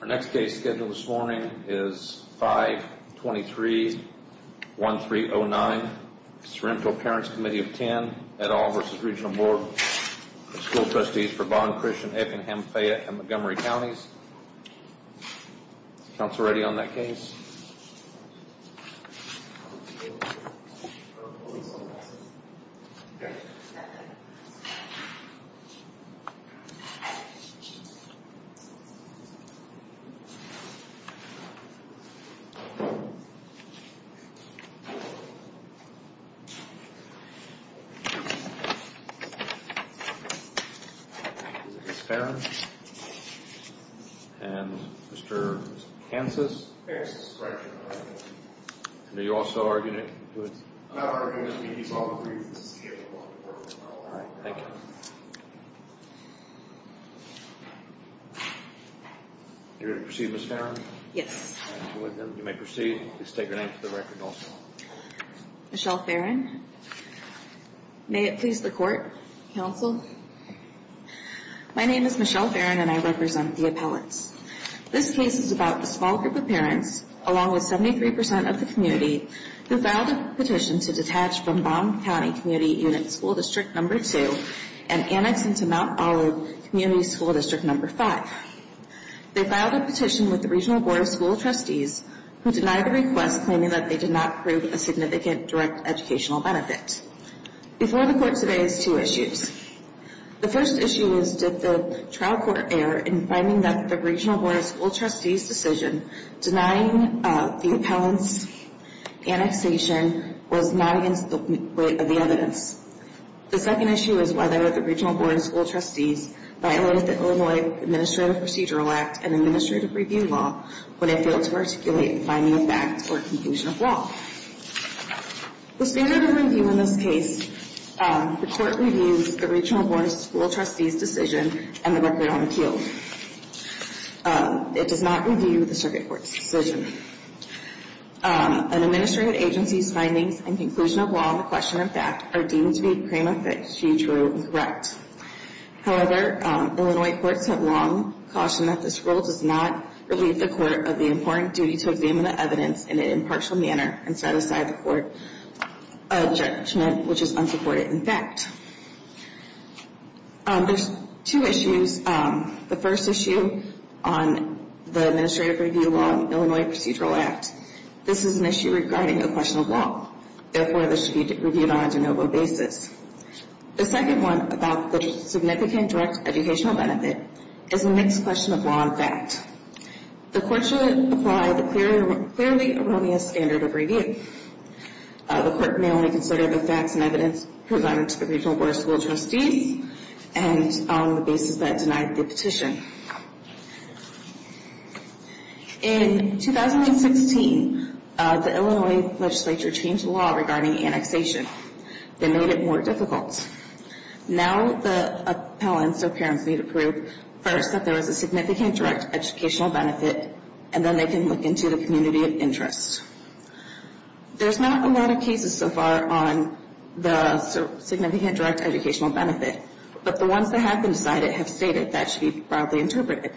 Our next case scheduled this morning is 523.1309 Sorento Parents Committee of Ten et al. v. Regional Board of School Trustees for Bond, Christian, Effingham, Fayette, & Montgomery Counties Council ready on that case? And Mr. Kansas? And are you also arguing it? I'm not arguing it. He's all in favor of it. All right. Thank you. You're going to proceed, Ms. Farron? Yes. You may proceed. Please state your name for the record also. Michelle Farron. May it please the Court, Council. My name is Michelle Farron and I represent the appellates. This case is about a small group of parents, along with 73% of the community, who filed a petition to detach from Bond County Community Unit School District No. 2 and annex into Mount Olive Community School District No. 5. They filed a petition with the Regional Board of School Trustees, who denied the request, claiming that they did not prove a significant direct educational benefit. Before the Court today is two issues. The first issue is, did the trial court err in finding that the Regional Board of School Trustees' decision denying the appellants' annexation was not against the weight of the evidence? The second issue is whether the Regional Board of School Trustees violated the Illinois Administrative Procedural Act and Administrative Review Law when it failed to articulate the finding of fact or conclusion of law. The standard of review in this case, the Court reviews the Regional Board of School Trustees' decision and the record on appeal. It does not review the circuit court's decision. An administrative agency's findings and conclusion of law and question of fact are deemed to be prima facie true and correct. However, Illinois courts have long cautioned that this rule does not relieve the court of the important duty to examine the evidence in an impartial manner and set aside the court a judgment which is unsupported in fact. There's two issues. The first issue on the Administrative Review Law and Illinois Procedural Act. This is an issue regarding a question of law. Therefore, this should be reviewed on a de novo basis. The second one about the significant direct educational benefit is a mixed question of law and fact. The Court should apply the clearly erroneous standard of review. The Court may only consider the facts and evidence presented to the Regional Board of School Trustees and on the basis that it denied the petition. In 2016, the Illinois legislature changed the law regarding annexation. They made it more difficult. Now the appellants or parents need to prove first that there is a significant direct educational benefit and then they can look into the community of interest. There's not a lot of cases so far on the significant direct educational benefit. But the ones that have been decided have stated that should be broadly interpreted.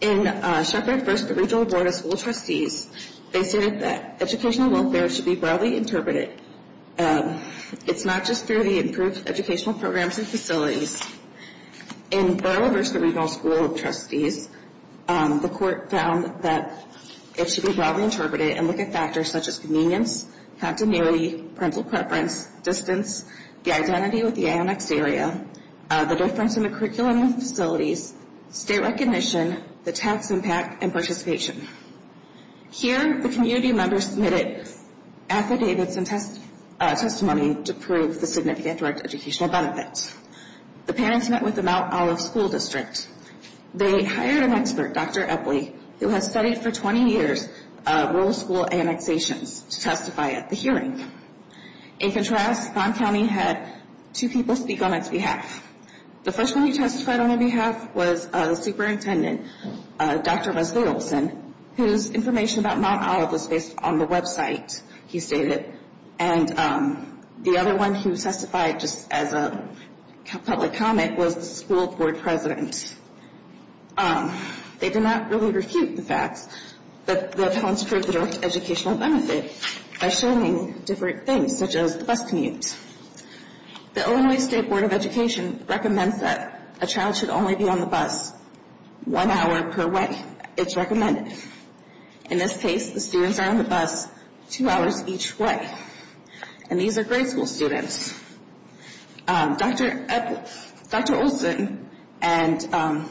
In Shepherd v. Regional Board of School Trustees, they stated that educational welfare should be broadly interpreted. It's not just through the improved educational programs and facilities. In Burrough v. Regional School of Trustees, the Court found that it should be broadly interpreted and look at factors such as convenience, continuity, parental preference, distance, the identity with the annexed area, the difference in the curriculum and facilities, state recognition, the tax impact, and participation. Here, the community members submitted affidavits and testimony to prove the significant direct educational benefit. The parents met with the Mount Olive School District. They hired an expert, Dr. Epley, who has studied for 20 years rural school annexations, to testify at the hearing. In contrast, Vaughn County had two people speak on its behalf. The first one who testified on their behalf was the superintendent, Dr. Rosalie Olson, whose information about Mount Olive was based on the website, he stated. And the other one who testified just as a public comment was the school board president. They did not really refute the facts, but the parents proved the direct educational benefit by showing different things, such as the bus commute. The Illinois State Board of Education recommends that a child should only be on the bus one hour per way. It's recommended. In this case, the students are on the bus two hours each way. And these are grade school students. Dr. Olson and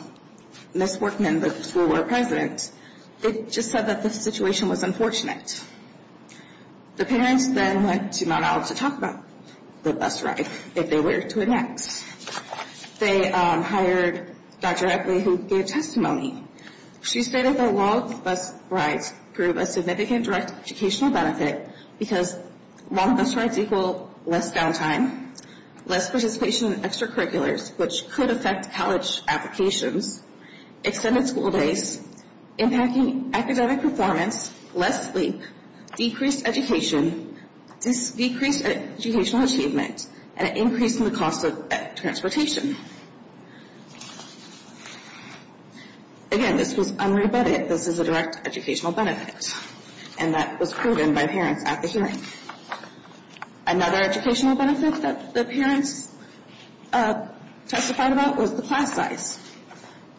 Ms. Portman, the school board president, they just said that the situation was unfortunate. The parents then went to Mount Olive to talk about the bus ride, if they were to annex. They hired Dr. Epley, who gave testimony. She stated that long bus rides prove a significant direct educational benefit because long bus rides equal less downtime, less participation in extracurriculars, which could affect college applications, extended school days, impacting academic performance, less sleep, decreased education, decreased educational achievement, and an increase in the cost of transportation. Again, this was unrebutted. This is a direct educational benefit, and that was proven by parents at the hearing. Another educational benefit that the parents testified about was the class size.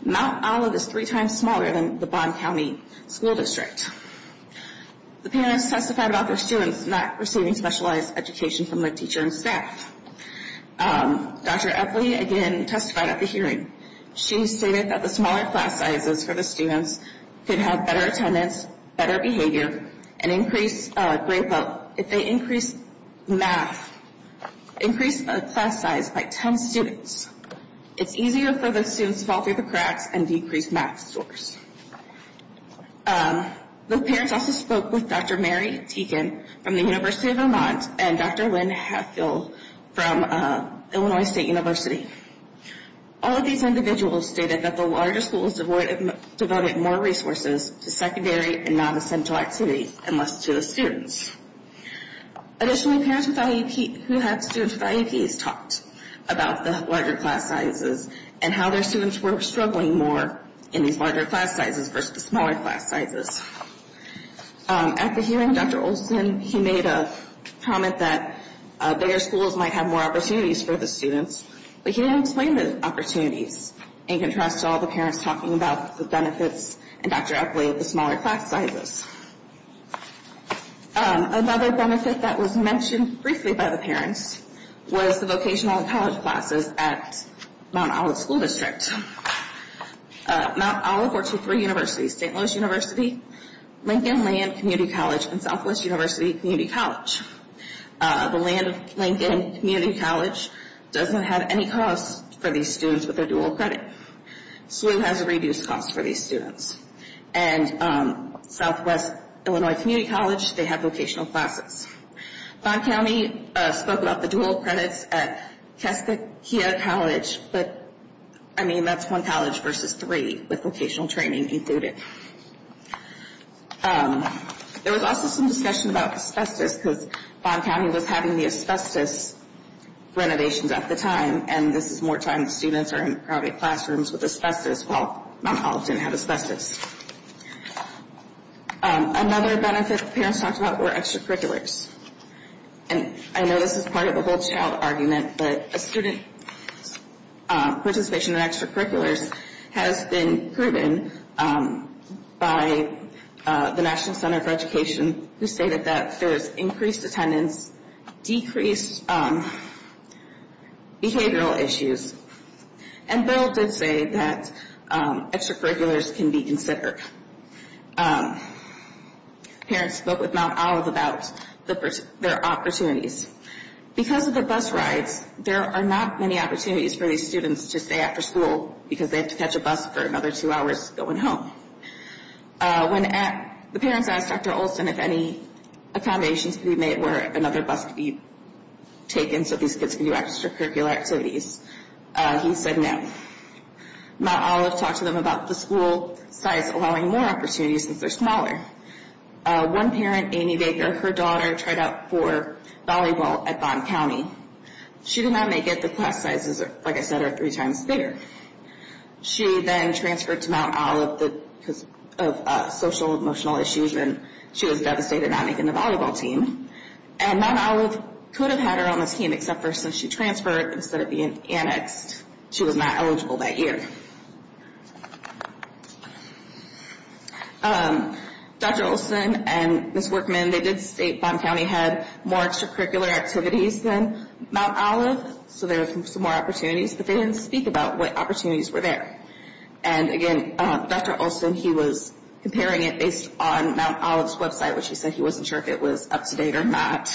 Mount Olive is three times smaller than the Bond County School District. The parents testified about their students not receiving specialized education from their teacher and staff. Dr. Epley again testified at the hearing. She stated that the smaller class sizes for the students could have better attendance, better behavior, and increased grade level. If they increase math, increase the class size by 10 students, it's easier for the students to fall through the cracks and decrease math scores. The parents also spoke with Dr. Mary Teegan from the University of Vermont and Dr. Lynn Hatfield from Illinois State University. All of these individuals stated that the larger schools devoted more resources to secondary and non-essential activities and less to the students. Additionally, parents who had students with IEPs talked about the larger class sizes and how their students were struggling more in these larger class sizes versus the smaller class sizes. At the hearing, Dr. Olsen made a comment that bigger schools might have more opportunities for the students, but he didn't explain the opportunities in contrast to all the parents talking about the benefits and Dr. Epley of the smaller class sizes. Another benefit that was mentioned briefly by the parents was the vocational college classes at Mount Olive School District. Mount Olive were two free universities, St. Louis University, Lincoln Land Community College, and Southwest University Community College. The Land of Lincoln Community College doesn't have any costs for these students with their dual credit. SLU has a reduced cost for these students. And Southwest Illinois Community College, they have vocational classes. Vaughn County spoke about the dual credits at Cascadia College, but I mean that's one college versus three with vocational training included. There was also some discussion about asbestos because Vaughn County was having the asbestos renovations at the time and this is more times students are in private classrooms with asbestos while Mount Olive didn't have asbestos. Another benefit the parents talked about were extracurriculars. And I know this is part of a whole child argument, but a student's participation in extracurriculars has been proven by the National Center for Education who stated that there's increased attendance, decreased behavioral issues, and Bill did say that extracurriculars can be considered. Parents spoke with Mount Olive about their opportunities. Because of the bus rides, there are not many opportunities for these students to stay after school because they have to catch a bus for another two hours going home. The parents asked Dr. Olson if any accommodations could be made where another bus could be taken so these kids could do extracurricular activities. He said no. Mount Olive talked to them about the school size allowing more opportunities since they're smaller. One parent, Amy Baker, her daughter tried out for volleyball at Vaughn County. She did not make it. The class sizes, like I said, are three times bigger. She then transferred to Mount Olive because of social and emotional issues and she was devastated not making the volleyball team. And Mount Olive could have had her on this team except for since she transferred, instead of being annexed, she was not eligible that year. Dr. Olson and Ms. Workman, they did state Vaughn County had more extracurricular activities than Mount Olive. So there were some more opportunities, but they didn't speak about what opportunities were there. And again, Dr. Olson, he was comparing it based on Mount Olive's website, which he said he wasn't sure if it was up-to-date or not.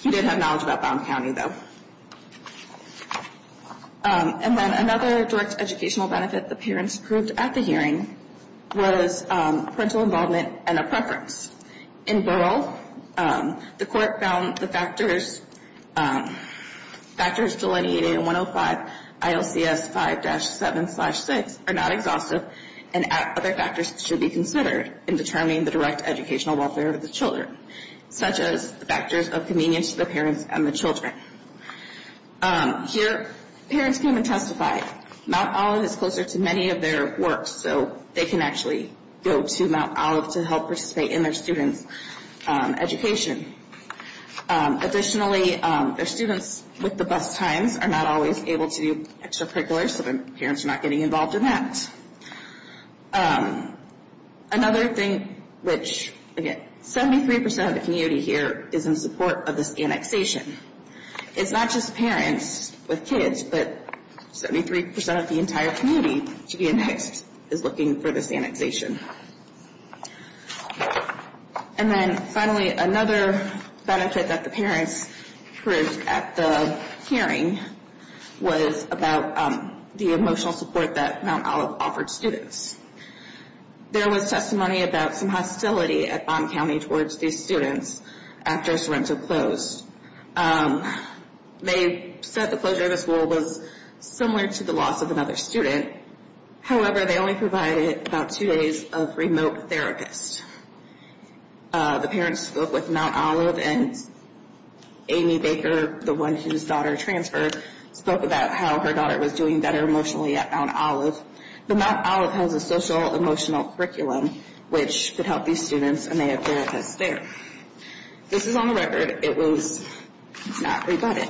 He did have knowledge about Vaughn County, though. And then another direct educational benefit the parents approved at the hearing was parental involvement and a preference. In Burrell, the court found the factors delineated in 105 ILCS 5-7-6 are not exhaustive and other factors should be considered in determining the direct educational welfare of the children, such as the factors of convenience to the parents and the children. Here, parents came and testified. Mount Olive is closer to many of their works, so they can actually go to Mount Olive to help participate in their students' education. Additionally, their students with the best times are not always able to do extracurriculars, so the parents are not getting involved in that. Another thing which, again, 73% of the community here is in support of this annexation. It's not just parents with kids, but 73% of the entire community to be annexed is looking for this annexation. And then, finally, another benefit that the parents approved at the hearing was about the emotional support that Mount Olive offered students. There was testimony about some hostility at Baum County towards these students after Sorrento closed. They said the closure of the school was similar to the loss of another student. However, they only provided about two days of remote therapists. The parents spoke with Mount Olive, and Amy Baker, the one whose daughter transferred, spoke about how her daughter was doing better emotionally at Mount Olive. But Mount Olive has a social-emotional curriculum which could help these students, and they have therapists there. This is on the record. It was not rebutted.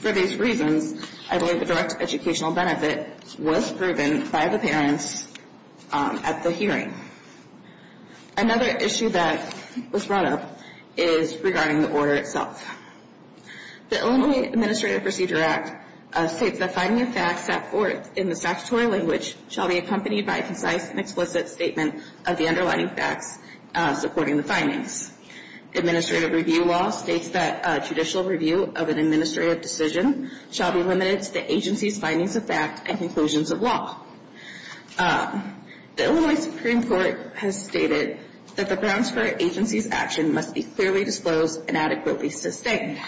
For these reasons, I believe the direct educational benefit was proven by the parents at the hearing. Another issue that was brought up is regarding the order itself. The Illinois Administrative Procedure Act states that finding of facts at court in the statutory language shall be accompanied by a concise and explicit statement of the underlying facts supporting the findings. Administrative review law states that judicial review of an administrative decision shall be limited to the agency's findings of fact and conclusions of law. The Illinois Supreme Court has stated that the grounds for an agency's action must be clearly disclosed and adequately sustained.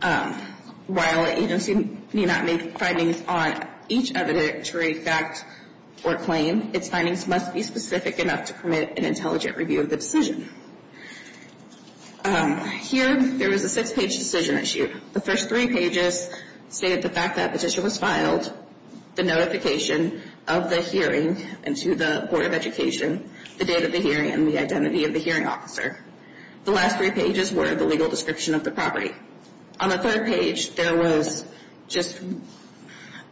While an agency may not make findings on each evidentiary fact or claim, its findings must be specific enough to permit an intelligent review of the decision. Here, there was a six-page decision issued. The first three pages stated the fact that petition was filed, the notification of the hearing, and to the Board of Education, the date of the hearing, and the identity of the hearing officer. The last three pages were the legal description of the property. On the third page, there was just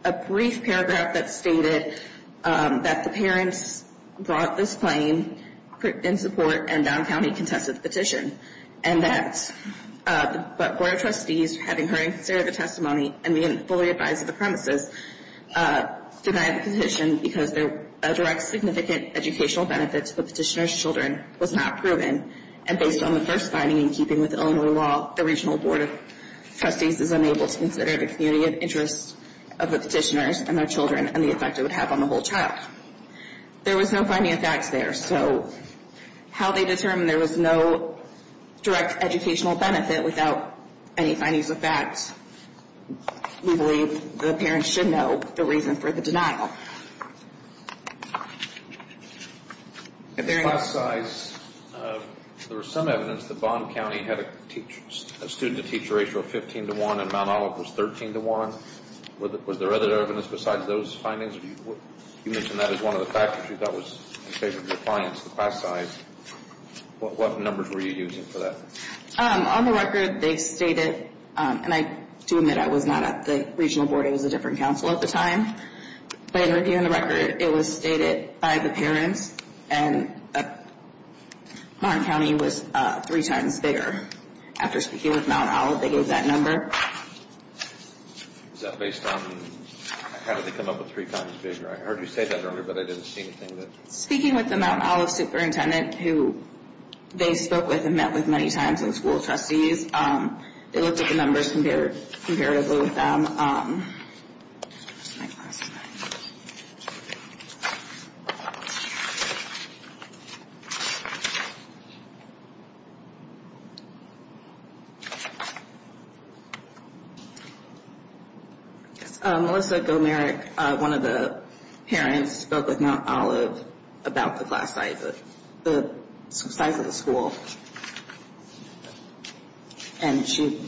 a brief paragraph that stated that the parents brought this claim in support and Down County contested the petition. And that the Board of Trustees, having heard and considered the testimony, and being fully advised of the premises, denied the petition because a direct significant educational benefit to the petitioner's children was not proven. And based on the first finding in keeping with Illinois law, the Regional Board of Trustees is unable to consider the community of interest of the petitioners and their children and the effect it would have on the whole child. There was no finding of facts there. So how they determined there was no direct educational benefit without any findings of facts, we believe the parents should know the reason for the denial. At the class size, there was some evidence that Bond County had a student-to-teacher ratio of 15 to 1 and Mount Olive was 13 to 1. Was there other evidence besides those findings? You mentioned that as one of the factors you thought was in favor of compliance, the class size. What numbers were you using for that? On the record, they stated, and I do admit I was not at the Regional Board. It was a different council at the time. But in reviewing the record, it was stated by the parents, and Martin County was three times bigger. After speaking with Mount Olive, they gave that number. Is that based on how did they come up with three times bigger? I heard you say that earlier, but I didn't see anything. Speaking with the Mount Olive superintendent, who they spoke with and met with many times in the School of Trustees, they looked at the numbers comparatively with them. Melissa Gomarek, one of the parents, spoke with Mount Olive about the class size of the school. And she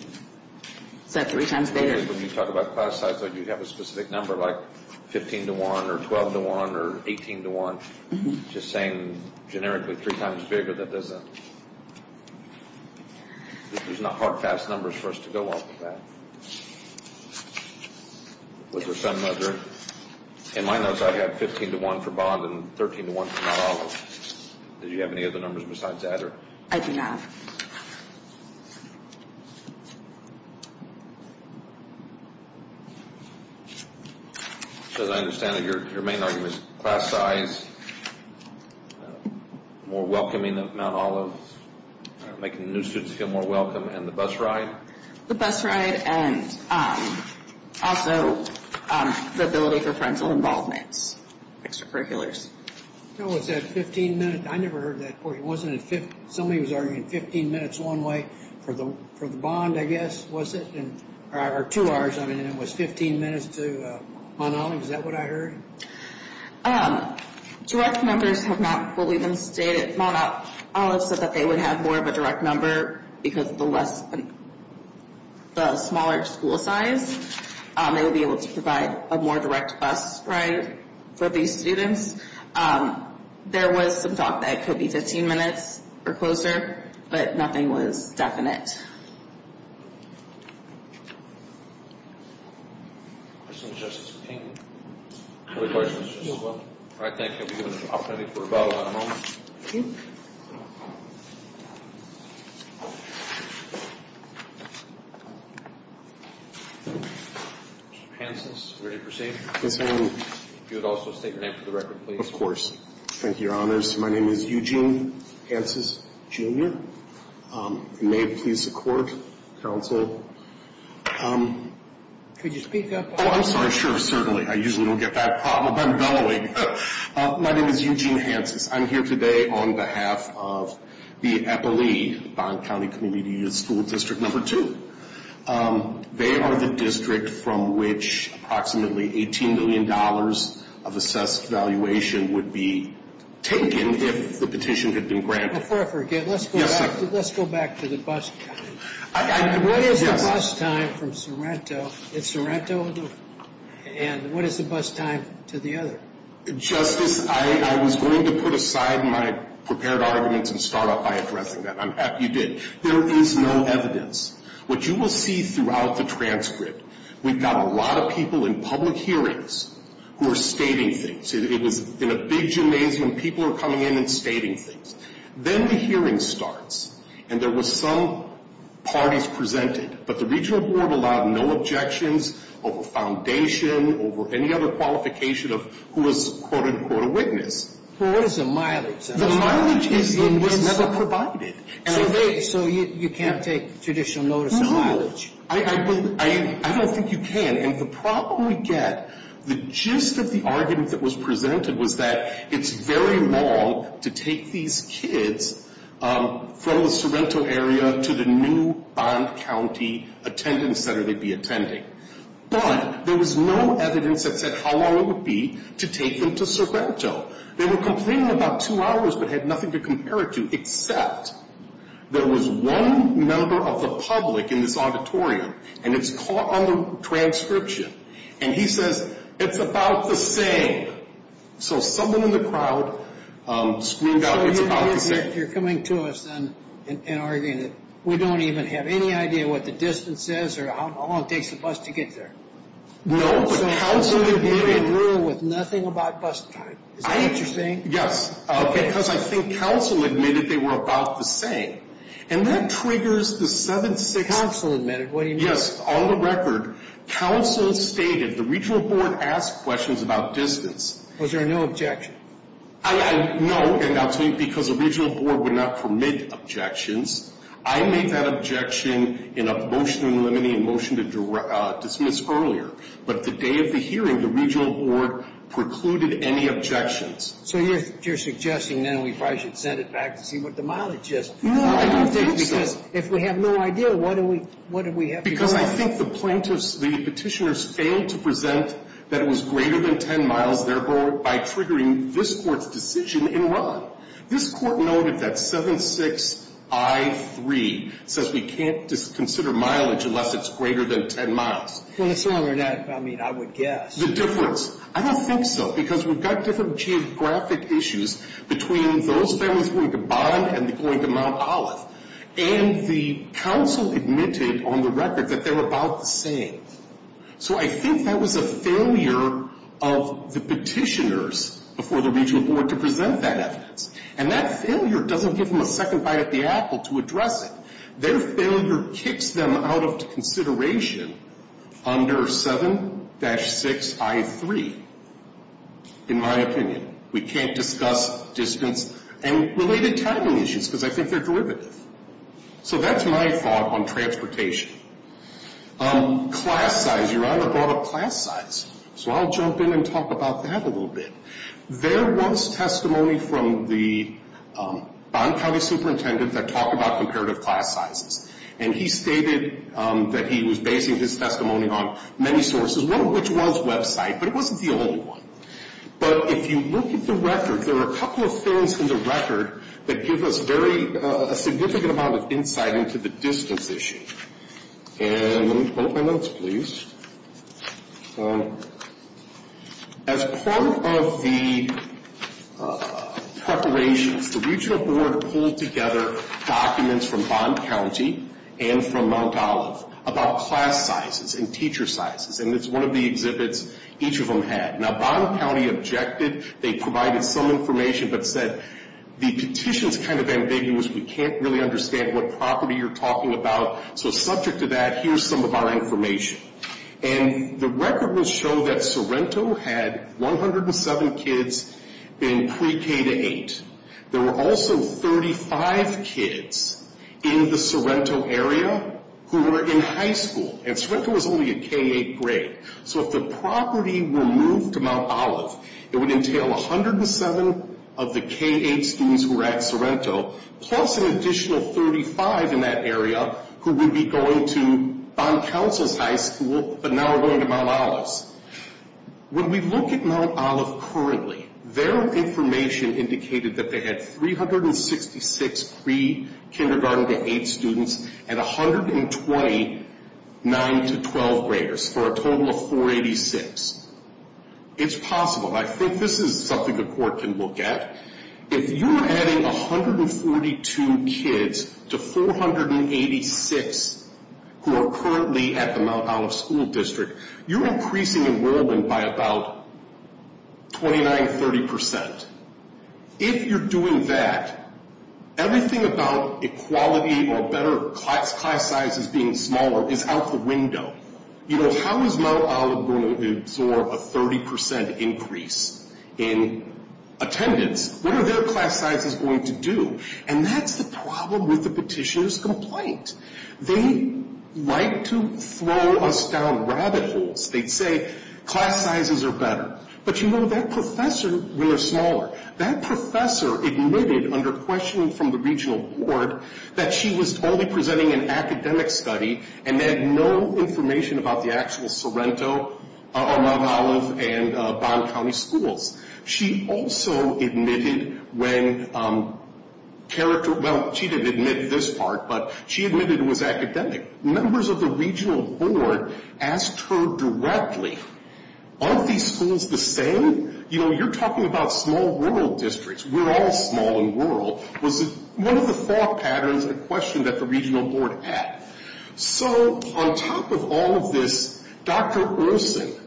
said three times bigger. When you talk about class size, you have a specific number, like 15 to 1 or 12 to 1 or 18 to 1. I'm just saying generically three times bigger. There's not hard, fast numbers for us to go off of that. Was there some other? In my notes, I have 15 to 1 for Bond and 13 to 1 for Mount Olive. Did you have any other numbers besides that? I do not. As I understand it, your main argument is class size, more welcoming of Mount Olive, making new students feel more welcome, and the bus ride? The bus ride and also the ability for friends and involvements, extracurriculars. Was that 15 minutes? I never heard that. Somebody was arguing 15 minutes one way for the Bond, I guess, or two hours. It was 15 minutes to Mount Olive. Is that what I heard? Direct numbers have not fully been stated. Mount Olive said that they would have more of a direct number because of the smaller school size. They would be able to provide a more direct bus ride for these students. There was some thought that it could be 15 minutes or closer, but nothing was definite. I think we have an opportunity for a vote on a moment. Mr. Pancis, are you ready to proceed? Yes, I am. If you would also state your name for the record, please. Of course. Thank you, Your Honors. My name is Eugene Pancis, Jr. If you may, please support counsel. Could you speak up? Oh, I'm sorry. Sure, certainly. I usually don't get that problem. I'm bellowing. My name is Eugene Pancis. I'm here today on behalf of the EPLI, Bond County Community School District No. 2. They are the district from which approximately $18 million of assessed valuation would be taken if the petition had been granted. Before I forget, let's go back to the bus time. What is the bus time from Sorrento to Sorrento, and what is the bus time to the other? Justice, I was going to put aside my prepared arguments and start off by addressing that. I'm happy you did. There is no evidence. What you will see throughout the transcript, we've got a lot of people in public hearings who are stating things. It was in a big gymnasium. People are coming in and stating things. Then the hearing starts, and there were some parties presented, but the regional board allowed no objections over foundation, over any other qualification of who was, quote, unquote, a witness. Well, what is the mileage? The mileage was never provided. So you can't take judicial notice of mileage? No. I don't think you can. And the problem we get, the gist of the argument that was presented was that it's very long to take these kids from the Sorrento area to the new Bond County attendance center they'd be attending. But there was no evidence that said how long it would be to take them to Sorrento. They were complaining about two hours but had nothing to compare it to, except there was one member of the public in this auditorium, and it's caught on the transcription. And he says, it's about the same. So someone in the crowd screamed out, it's about the same. So you're coming to us then and arguing that we don't even have any idea what the distance is or how long it takes the bus to get there. No, but counsel admitted. So you're in agreement with nothing about bus time. Is that what you're saying? Yes, because I think counsel admitted they were about the same. And that triggers the 7-6. Counsel admitted, what do you mean? Yes, on the record, counsel stated the regional board asked questions about distance. Was there no objection? No, because the regional board would not permit objections. I made that objection in a motion in limine in motion to dismiss earlier. But the day of the hearing, the regional board precluded any objections. So you're suggesting then we probably should send it back to see what the mileage is. No, I don't think so. Because if we have no idea, what do we have to go on? Because I think the plaintiffs, the petitioners, failed to present that it was greater than 10 miles, therefore, by triggering this Court's decision in Ron. This Court noted that 7-6-I-3 says we can't consider mileage unless it's greater than 10 miles. Well, it's longer than, I mean, I would guess. The difference. I don't think so. Because we've got different geographic issues between those families going to Bond and going to Mount Olive. And the counsel admitted on the record that they were about the same. So I think that was a failure of the petitioners before the regional board to present that evidence. And that failure doesn't give them a second bite at the apple to address it. Their failure kicks them out of consideration under 7-6-I-3, in my opinion. We can't discuss distance and related timing issues because I think they're derivative. So that's my thought on transportation. Class size. Your Honor brought up class size. So I'll jump in and talk about that a little bit. There was testimony from the Bond County Superintendent that talked about comparative class sizes. And he stated that he was basing his testimony on many sources, one of which was WebSite. But it wasn't the only one. But if you look at the record, there are a couple of things in the record that give us a significant amount of insight into the distance issue. And let me quote my notes, please. As part of the preparations, the regional board pulled together documents from Bond County and from Mount Olive about class sizes and teacher sizes. And it's one of the exhibits each of them had. Now, Bond County objected. They provided some information but said the petition's kind of ambiguous. We can't really understand what property you're talking about. So subject to that, here's some of our information. And the record will show that Sorrento had 107 kids in pre-K-8. There were also 35 kids in the Sorrento area who were in high school. And Sorrento was only a K-8 grade. So if the property were moved to Mount Olive, it would entail 107 of the K-8 students who were at Sorrento plus an additional 35 in that area who would be going to Bond Council's high school but now are going to Mount Olive's. When we look at Mount Olive currently, their information indicated that they had 366 pre-K-8 students and 129 to 12 graders for a total of 486. It's possible. I think this is something the court can look at. If you're adding 142 kids to 486 who are currently at the Mount Olive School District, you're increasing enrollment by about 29, 30%. If you're doing that, everything about equality or better class sizes being smaller is out the window. You know, how is Mount Olive going to absorb a 30% increase in attendance? What are their class sizes going to do? And that's the problem with the petitioner's complaint. They like to throw us down rabbit holes. They'd say, class sizes are better. But, you know, that professor, when they're smaller, that professor admitted under questioning from the regional board that she was only presenting an academic study and had no information about the actual Sorrento or Mount Olive and Bond County schools. She also admitted when character, well, she didn't admit this part, but she admitted it was academic. Members of the regional board asked her directly, aren't these schools the same? You know, you're talking about small rural districts. We're all small and rural. It was one of the thought patterns and questions that the regional board had. So on top of all of this, Dr. Erson,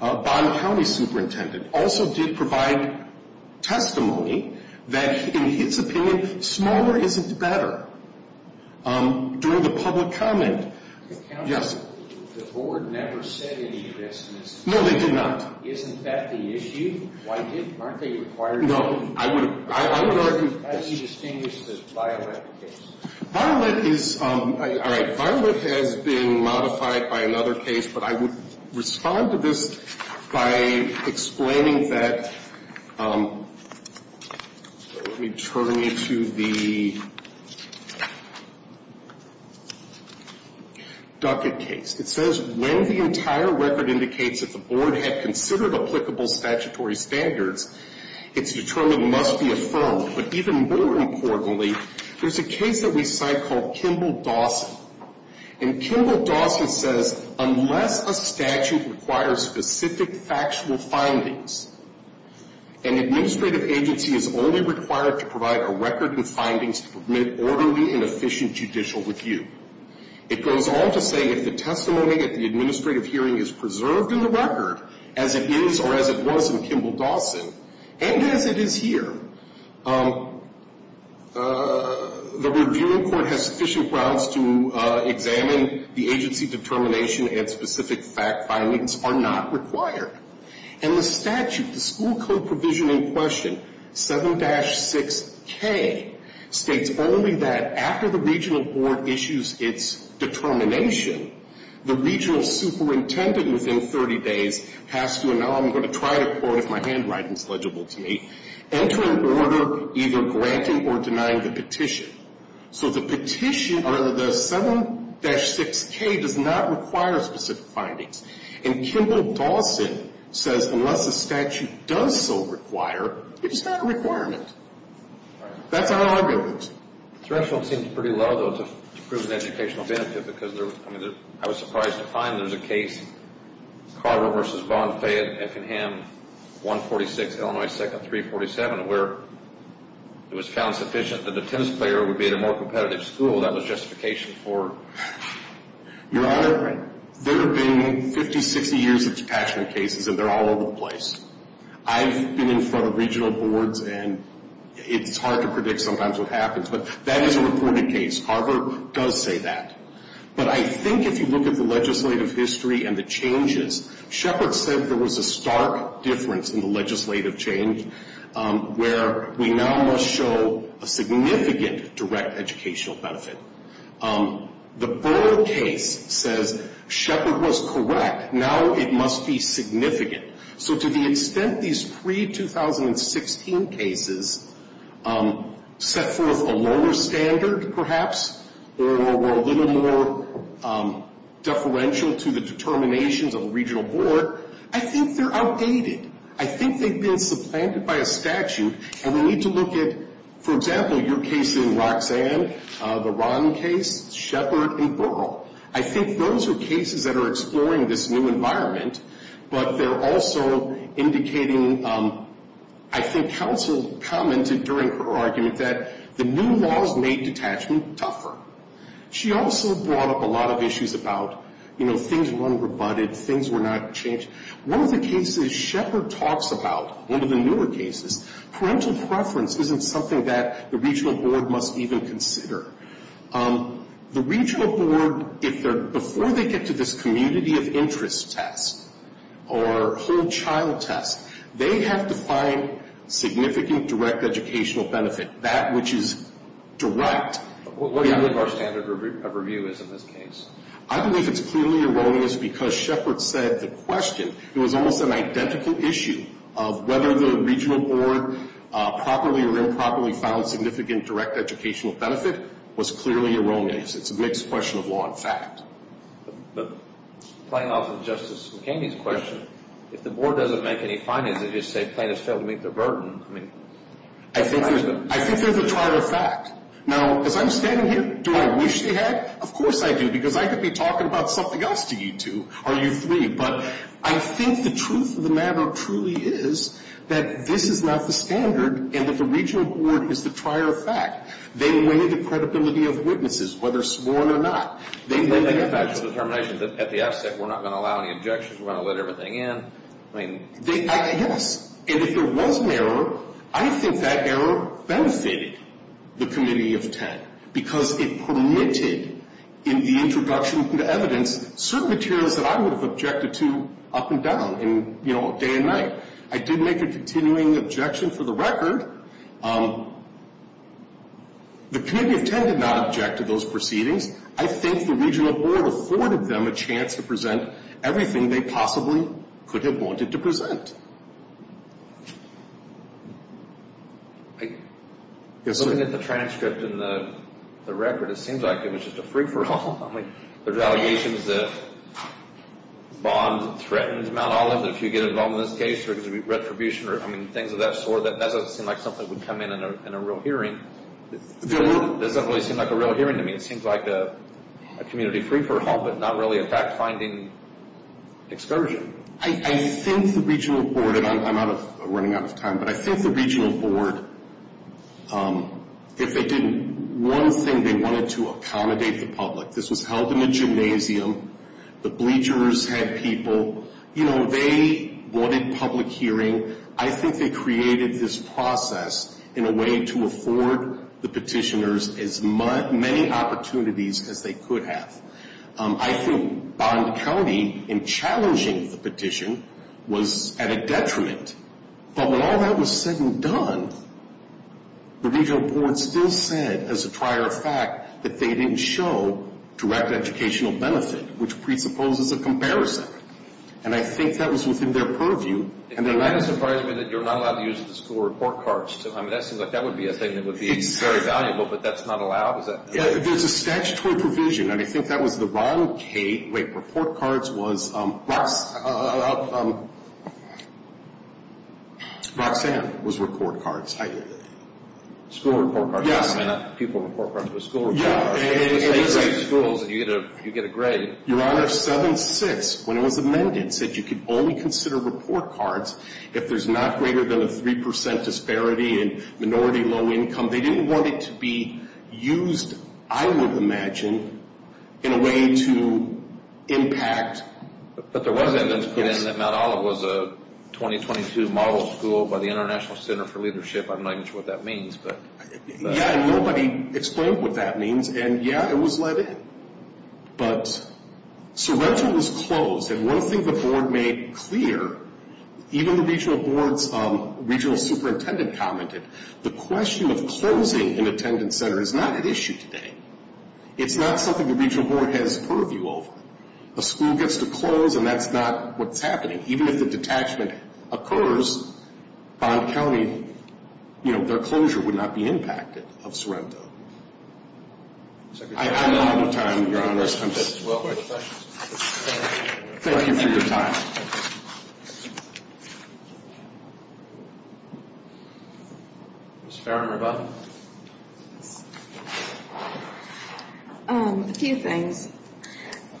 Bond County superintendent, also did provide testimony that in his opinion, smaller isn't better. During the public comment, yes. The board never said any of this. No, they did not. Isn't that the issue? Why aren't they required to? No, I would argue. How do you distinguish this Violet case? Violet is, all right, Violet has been modified by another case, but I would respond to this by explaining that, let me turn you to the Duckett case. It says, when the entire record indicates that the board had considered applicable statutory standards, it's determined must be affirmed. But even more importantly, there's a case that we cite called Kimball-Dawson. And Kimball-Dawson says, unless a statute requires specific factual findings, an administrative agency is only required to provide a record and findings to permit orderly and efficient judicial review. It goes on to say, if the testimony at the administrative hearing is preserved in the record as it is or as it was in Kimball-Dawson, and as it is here, the reviewing court has sufficient grounds to examine the agency determination and specific fact findings are not required. And the statute, the school code provision in question, 7-6K, states only that after the regional board issues its determination, the regional superintendent within 30 days has to, and now I'm going to try to quote if my handwriting is legible to me, enter an order either granting or denying the petition. So the petition, or the 7-6K, does not require specific findings. And Kimball-Dawson says, unless a statute does so require, it's not a requirement. That's our argument. The threshold seems pretty low, though, to prove an educational benefit, because I was surprised to find there's a case, Carver v. Vaughn, Fayette, Effingham, 146 Illinois 2nd, 347, where it was found sufficient that the tennis player would be at a more competitive school. That was justification for... Your Honor, there have been 50, 60 years of detachment cases, and they're all over the place. I've been in front of regional boards, and it's hard to predict sometimes what happens, but that is a reported case. Carver does say that. But I think if you look at the legislative history and the changes, Shepard said there was a stark difference in the legislative change where we now must show a significant direct educational benefit. The Burr case says Shepard was correct. Now it must be significant. So to the extent these pre-2016 cases set forth a lower standard, perhaps, or were a little more deferential to the determinations of a regional board, I think they're outdated. I think they've been supplanted by a statute. And we need to look at, for example, your case in Roxanne, the Ron case, Shepard, and Burrall. I think those are cases that are exploring this new environment, but they're also indicating... I think counsel commented during her argument that the new laws made detachment tougher. She also brought up a lot of issues about, you know, things were unrebutted, things were not changed. One of the cases Shepard talks about, one of the newer cases, parental preference isn't something that the regional board must even consider. The regional board, if they're... Before they get to this community of interest test or whole child test, they have to find significant direct educational benefit, that which is direct. What do you believe our standard of review is in this case? I believe it's clearly erroneous because Shepard said the question. It was almost an identical issue of whether the regional board properly or improperly found significant direct educational benefit was clearly erroneous. It's a mixed question of law and fact. But playing off of Justice McKinney's question, if the board doesn't make any findings, they just say plaintiffs failed to meet their burden. I think there's a trial of fact. Now, as I'm standing here, do I wish they had? Of course I do because I could be talking about something else to you two or you three. But I think the truth of the matter truly is that this is not the standard and that the regional board is the trier of fact. They weigh the credibility of witnesses, whether sworn or not. They weigh the evidence. They make a factual determination that at the outset we're not going to allow any objections, we're going to let everything in. I mean... Yes. And if there was an error, I think that error benefited the Committee of Ten because it permitted in the introduction to evidence certain materials that I would have objected to up and down and, you know, day and night. I did make a continuing objection for the record. The Committee of Ten did not object to those proceedings. I think the regional board afforded them a chance to present everything they possibly could have wanted to present. Looking at the transcript and the record, it seems like it was just a free-for-all. I mean, there's allegations that Bond threatened Mount Oliver to get involved in this case because of retribution or, I mean, things of that sort. That doesn't seem like something that would come in in a real hearing. It doesn't really seem like a real hearing to me. It seems like a community free-for-all, but not really a fact-finding excursion. I think the regional board, and I'm running out of time, but I think the regional board, if they did one thing, they wanted to accommodate the public. This was held in a gymnasium. The bleachers had people. You know, they wanted public hearing. I think they created this process in a way to afford the petitioners as many opportunities as they could have. I think Bond County, in challenging the petition, was at a detriment. But while that was said and done, the regional board still said, as a prior fact, that they didn't show direct educational benefit, which presupposes a comparison. And I think that was within their purview. It might have surprised me that you're not allowed to use the school report cards. I mean, that seems like that would be a thing that would be very valuable, but that's not allowed? There's a statutory provision, and I think that was the wrong case. Wait, report cards was Roxanne was report cards. School report cards. Yeah. I mean, not people report cards, but school report cards. Yeah, it is. You take schools and you get a grade. Your Honor, 7-6, when it was amended, said you could only consider report cards if there's not greater than a 3% disparity in minority low income. They didn't want it to be used, I would imagine, in a way to impact. But there was evidence put in that Mount Olive was a 2022 model school by the International Center for Leadership. I'm not even sure what that means. Yeah, and nobody explained what that means, and yeah, it was let in. But Sorrento was closed, and one thing the board made clear, even the regional superintendent commented, the question of closing an attendance center is not at issue today. It's not something the regional board has purview over. A school gets to close, and that's not what's happening. Even if the detachment occurs, Bond County, their closure would not be impacted of Sorrento. I have a lot more time, Your Honor. I'm just looking for your time. Ms. Farron, rebuttal. A few things.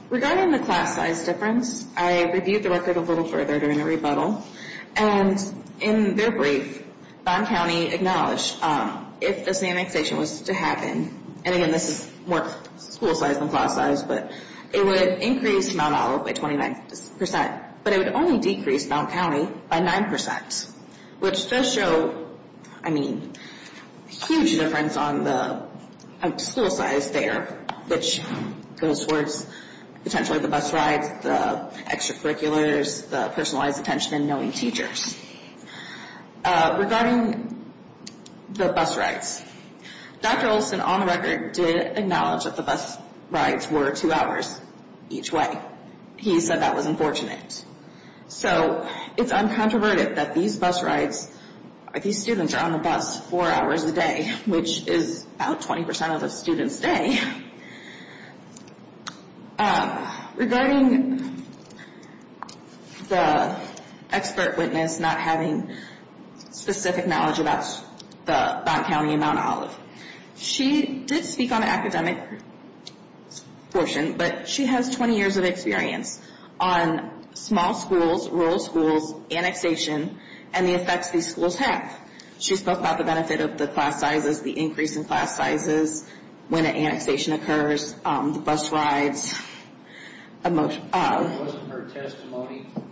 Regarding the class size difference, I reviewed the record a little further during the rebuttal, and in their brief, Bond County acknowledged if this annexation was to happen, and again, this is more school size than class size, but it would increase Mount Olive by 29%, but it would only decrease Bond County by 9%, which does show, I mean, a huge difference on the school size there, which goes towards potentially the bus rides, the extracurriculars, the personalized attention, and knowing teachers. Regarding the bus rides, Dr. Olson on the record did acknowledge that the bus rides were two hours each way. He said that was unfortunate. So it's uncontroverted that these bus rides, these students are on the bus four hours a day, which is about 20% of a student's day. Regarding the expert witness not having specific knowledge about the Bond County and Mount Olive, she did speak on the academic portion, but she has 20 years of experience on small schools, rural schools, annexation, and the effects these schools have. She spoke about the benefit of the class sizes, the increase in class sizes when an annexation occurs, the bus rides. It wasn't her testimony in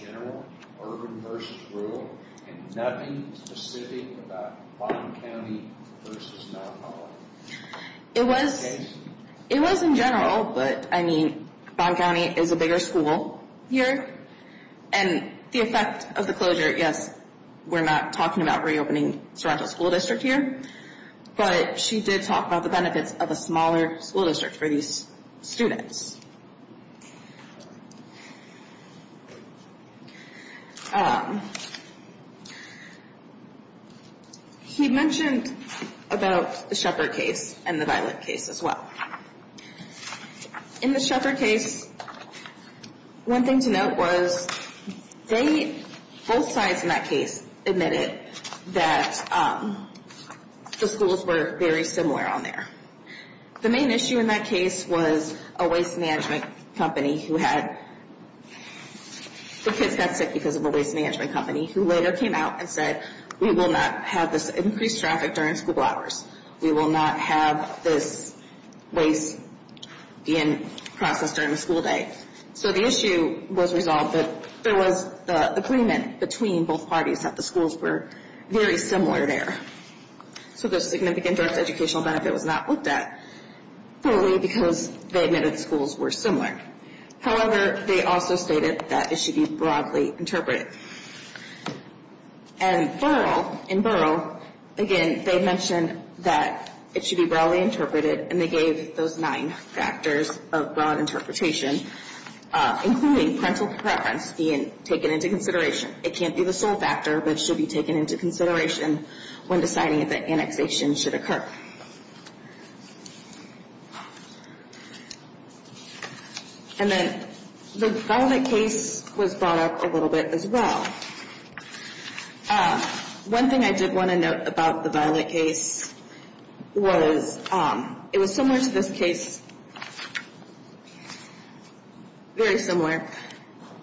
general, urban versus rural, and nothing specific about Bond County versus Mount Olive? It was in general, but, I mean, Bond County is a bigger school here, and the effect of the closure, yes, we're not talking about reopening Sorrento School District here, but she did talk about the benefits of a smaller school district for these students. He mentioned about the Shepherd case and the Violet case as well. In the Shepherd case, one thing to note was they, both sides in that case, admitted that the schools were very similar on there. The main issue in that case was a waste management company who had, the kids got sick because of a waste management company, who later came out and said, we will not have this increased traffic during school hours. We will not have this waste being processed during the school day. So the issue was resolved that there was agreement between both parties that the schools were very similar there. So the significant direct educational benefit was not looked at fully because they admitted the schools were similar. However, they also stated that it should be broadly interpreted. And Borough, in Borough, again, they mentioned that it should be broadly interpreted, and they gave those nine factors of broad interpretation, including parental preference being taken into consideration. It can't be the sole factor, but it should be taken into consideration when deciding that annexation should occur. And then the Violet case was brought up a little bit as well. One thing I did want to note about the Violet case was it was similar to this case, very similar,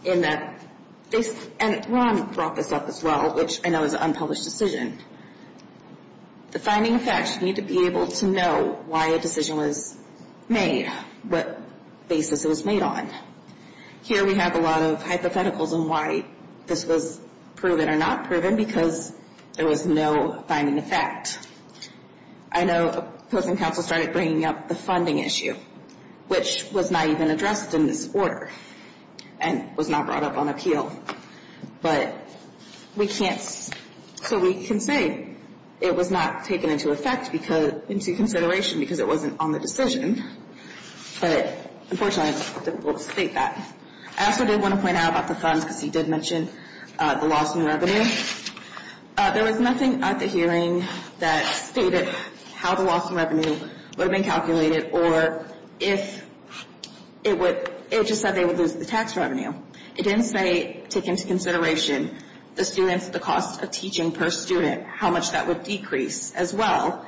in that, and Ron brought this up as well, which I know is an unpublished decision. The finding of facts, you need to be able to know why a decision was made, what basis it was made on. Here we have a lot of hypotheticals on why this was proven or not proven because there was no finding of fact. I know opposing counsel started bringing up the funding issue, which was not even addressed in this order and was not brought up on appeal. But we can't, so we can say it was not taken into effect because, into consideration because it wasn't on the decision. But unfortunately, it's difficult to state that. I also did want to point out about the funds because he did mention the loss in revenue. There was nothing at the hearing that stated how the loss in revenue would have been calculated or if it would, it just said they would lose the tax revenue. It didn't say take into consideration the students, the cost of teaching per student, how much that would decrease as well,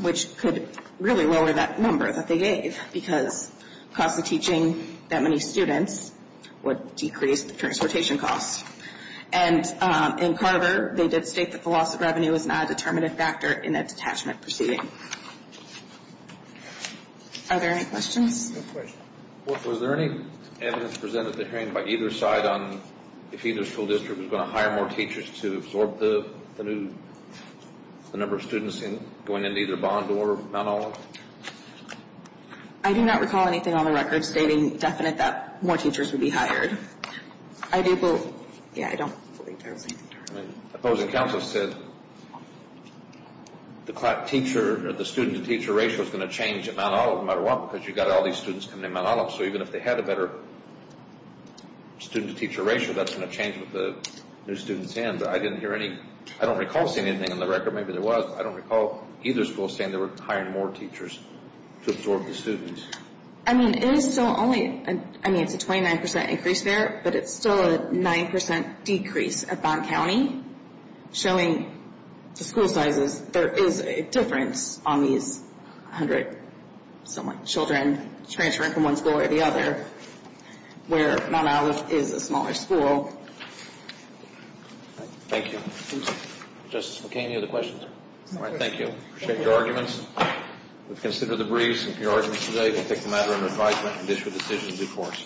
which could really lower that number that they gave because the cost of teaching that many students would decrease the transportation costs. And in Carver, they did state that the loss of revenue is not a determinative factor in a detachment proceeding. Are there any questions? Of course. Was there any evidence presented at the hearing by either side on if either school district was going to hire more teachers to absorb the new, the number of students going into either Bond or Mount Olive? I do not recall anything on the record stating definite that more teachers would be hired. I do believe, yeah, I don't believe there was anything there. Opposing counsel said the student-to-teacher ratio is going to change at Mount Olive no matter what because you've got all these students coming to Mount Olive, so even if they had a better student-to-teacher ratio, that's going to change with the new students in. But I didn't hear any, I don't recall seeing anything on the record, maybe there was, but I don't recall either school saying they were hiring more teachers to absorb the students. I mean, it is still only, I mean, it's a 29% increase there, but it's still a 9% decrease at Bond County. Showing the school sizes, there is a difference on these 100-some-odd children transferring from one school or the other where Mount Olive is a smaller school. Thank you. Justice McCain, any other questions? No questions. All right, thank you. Appreciate your arguments. We've considered the briefs and your arguments today. We'll take the matter under advisement and issue a decision in due course.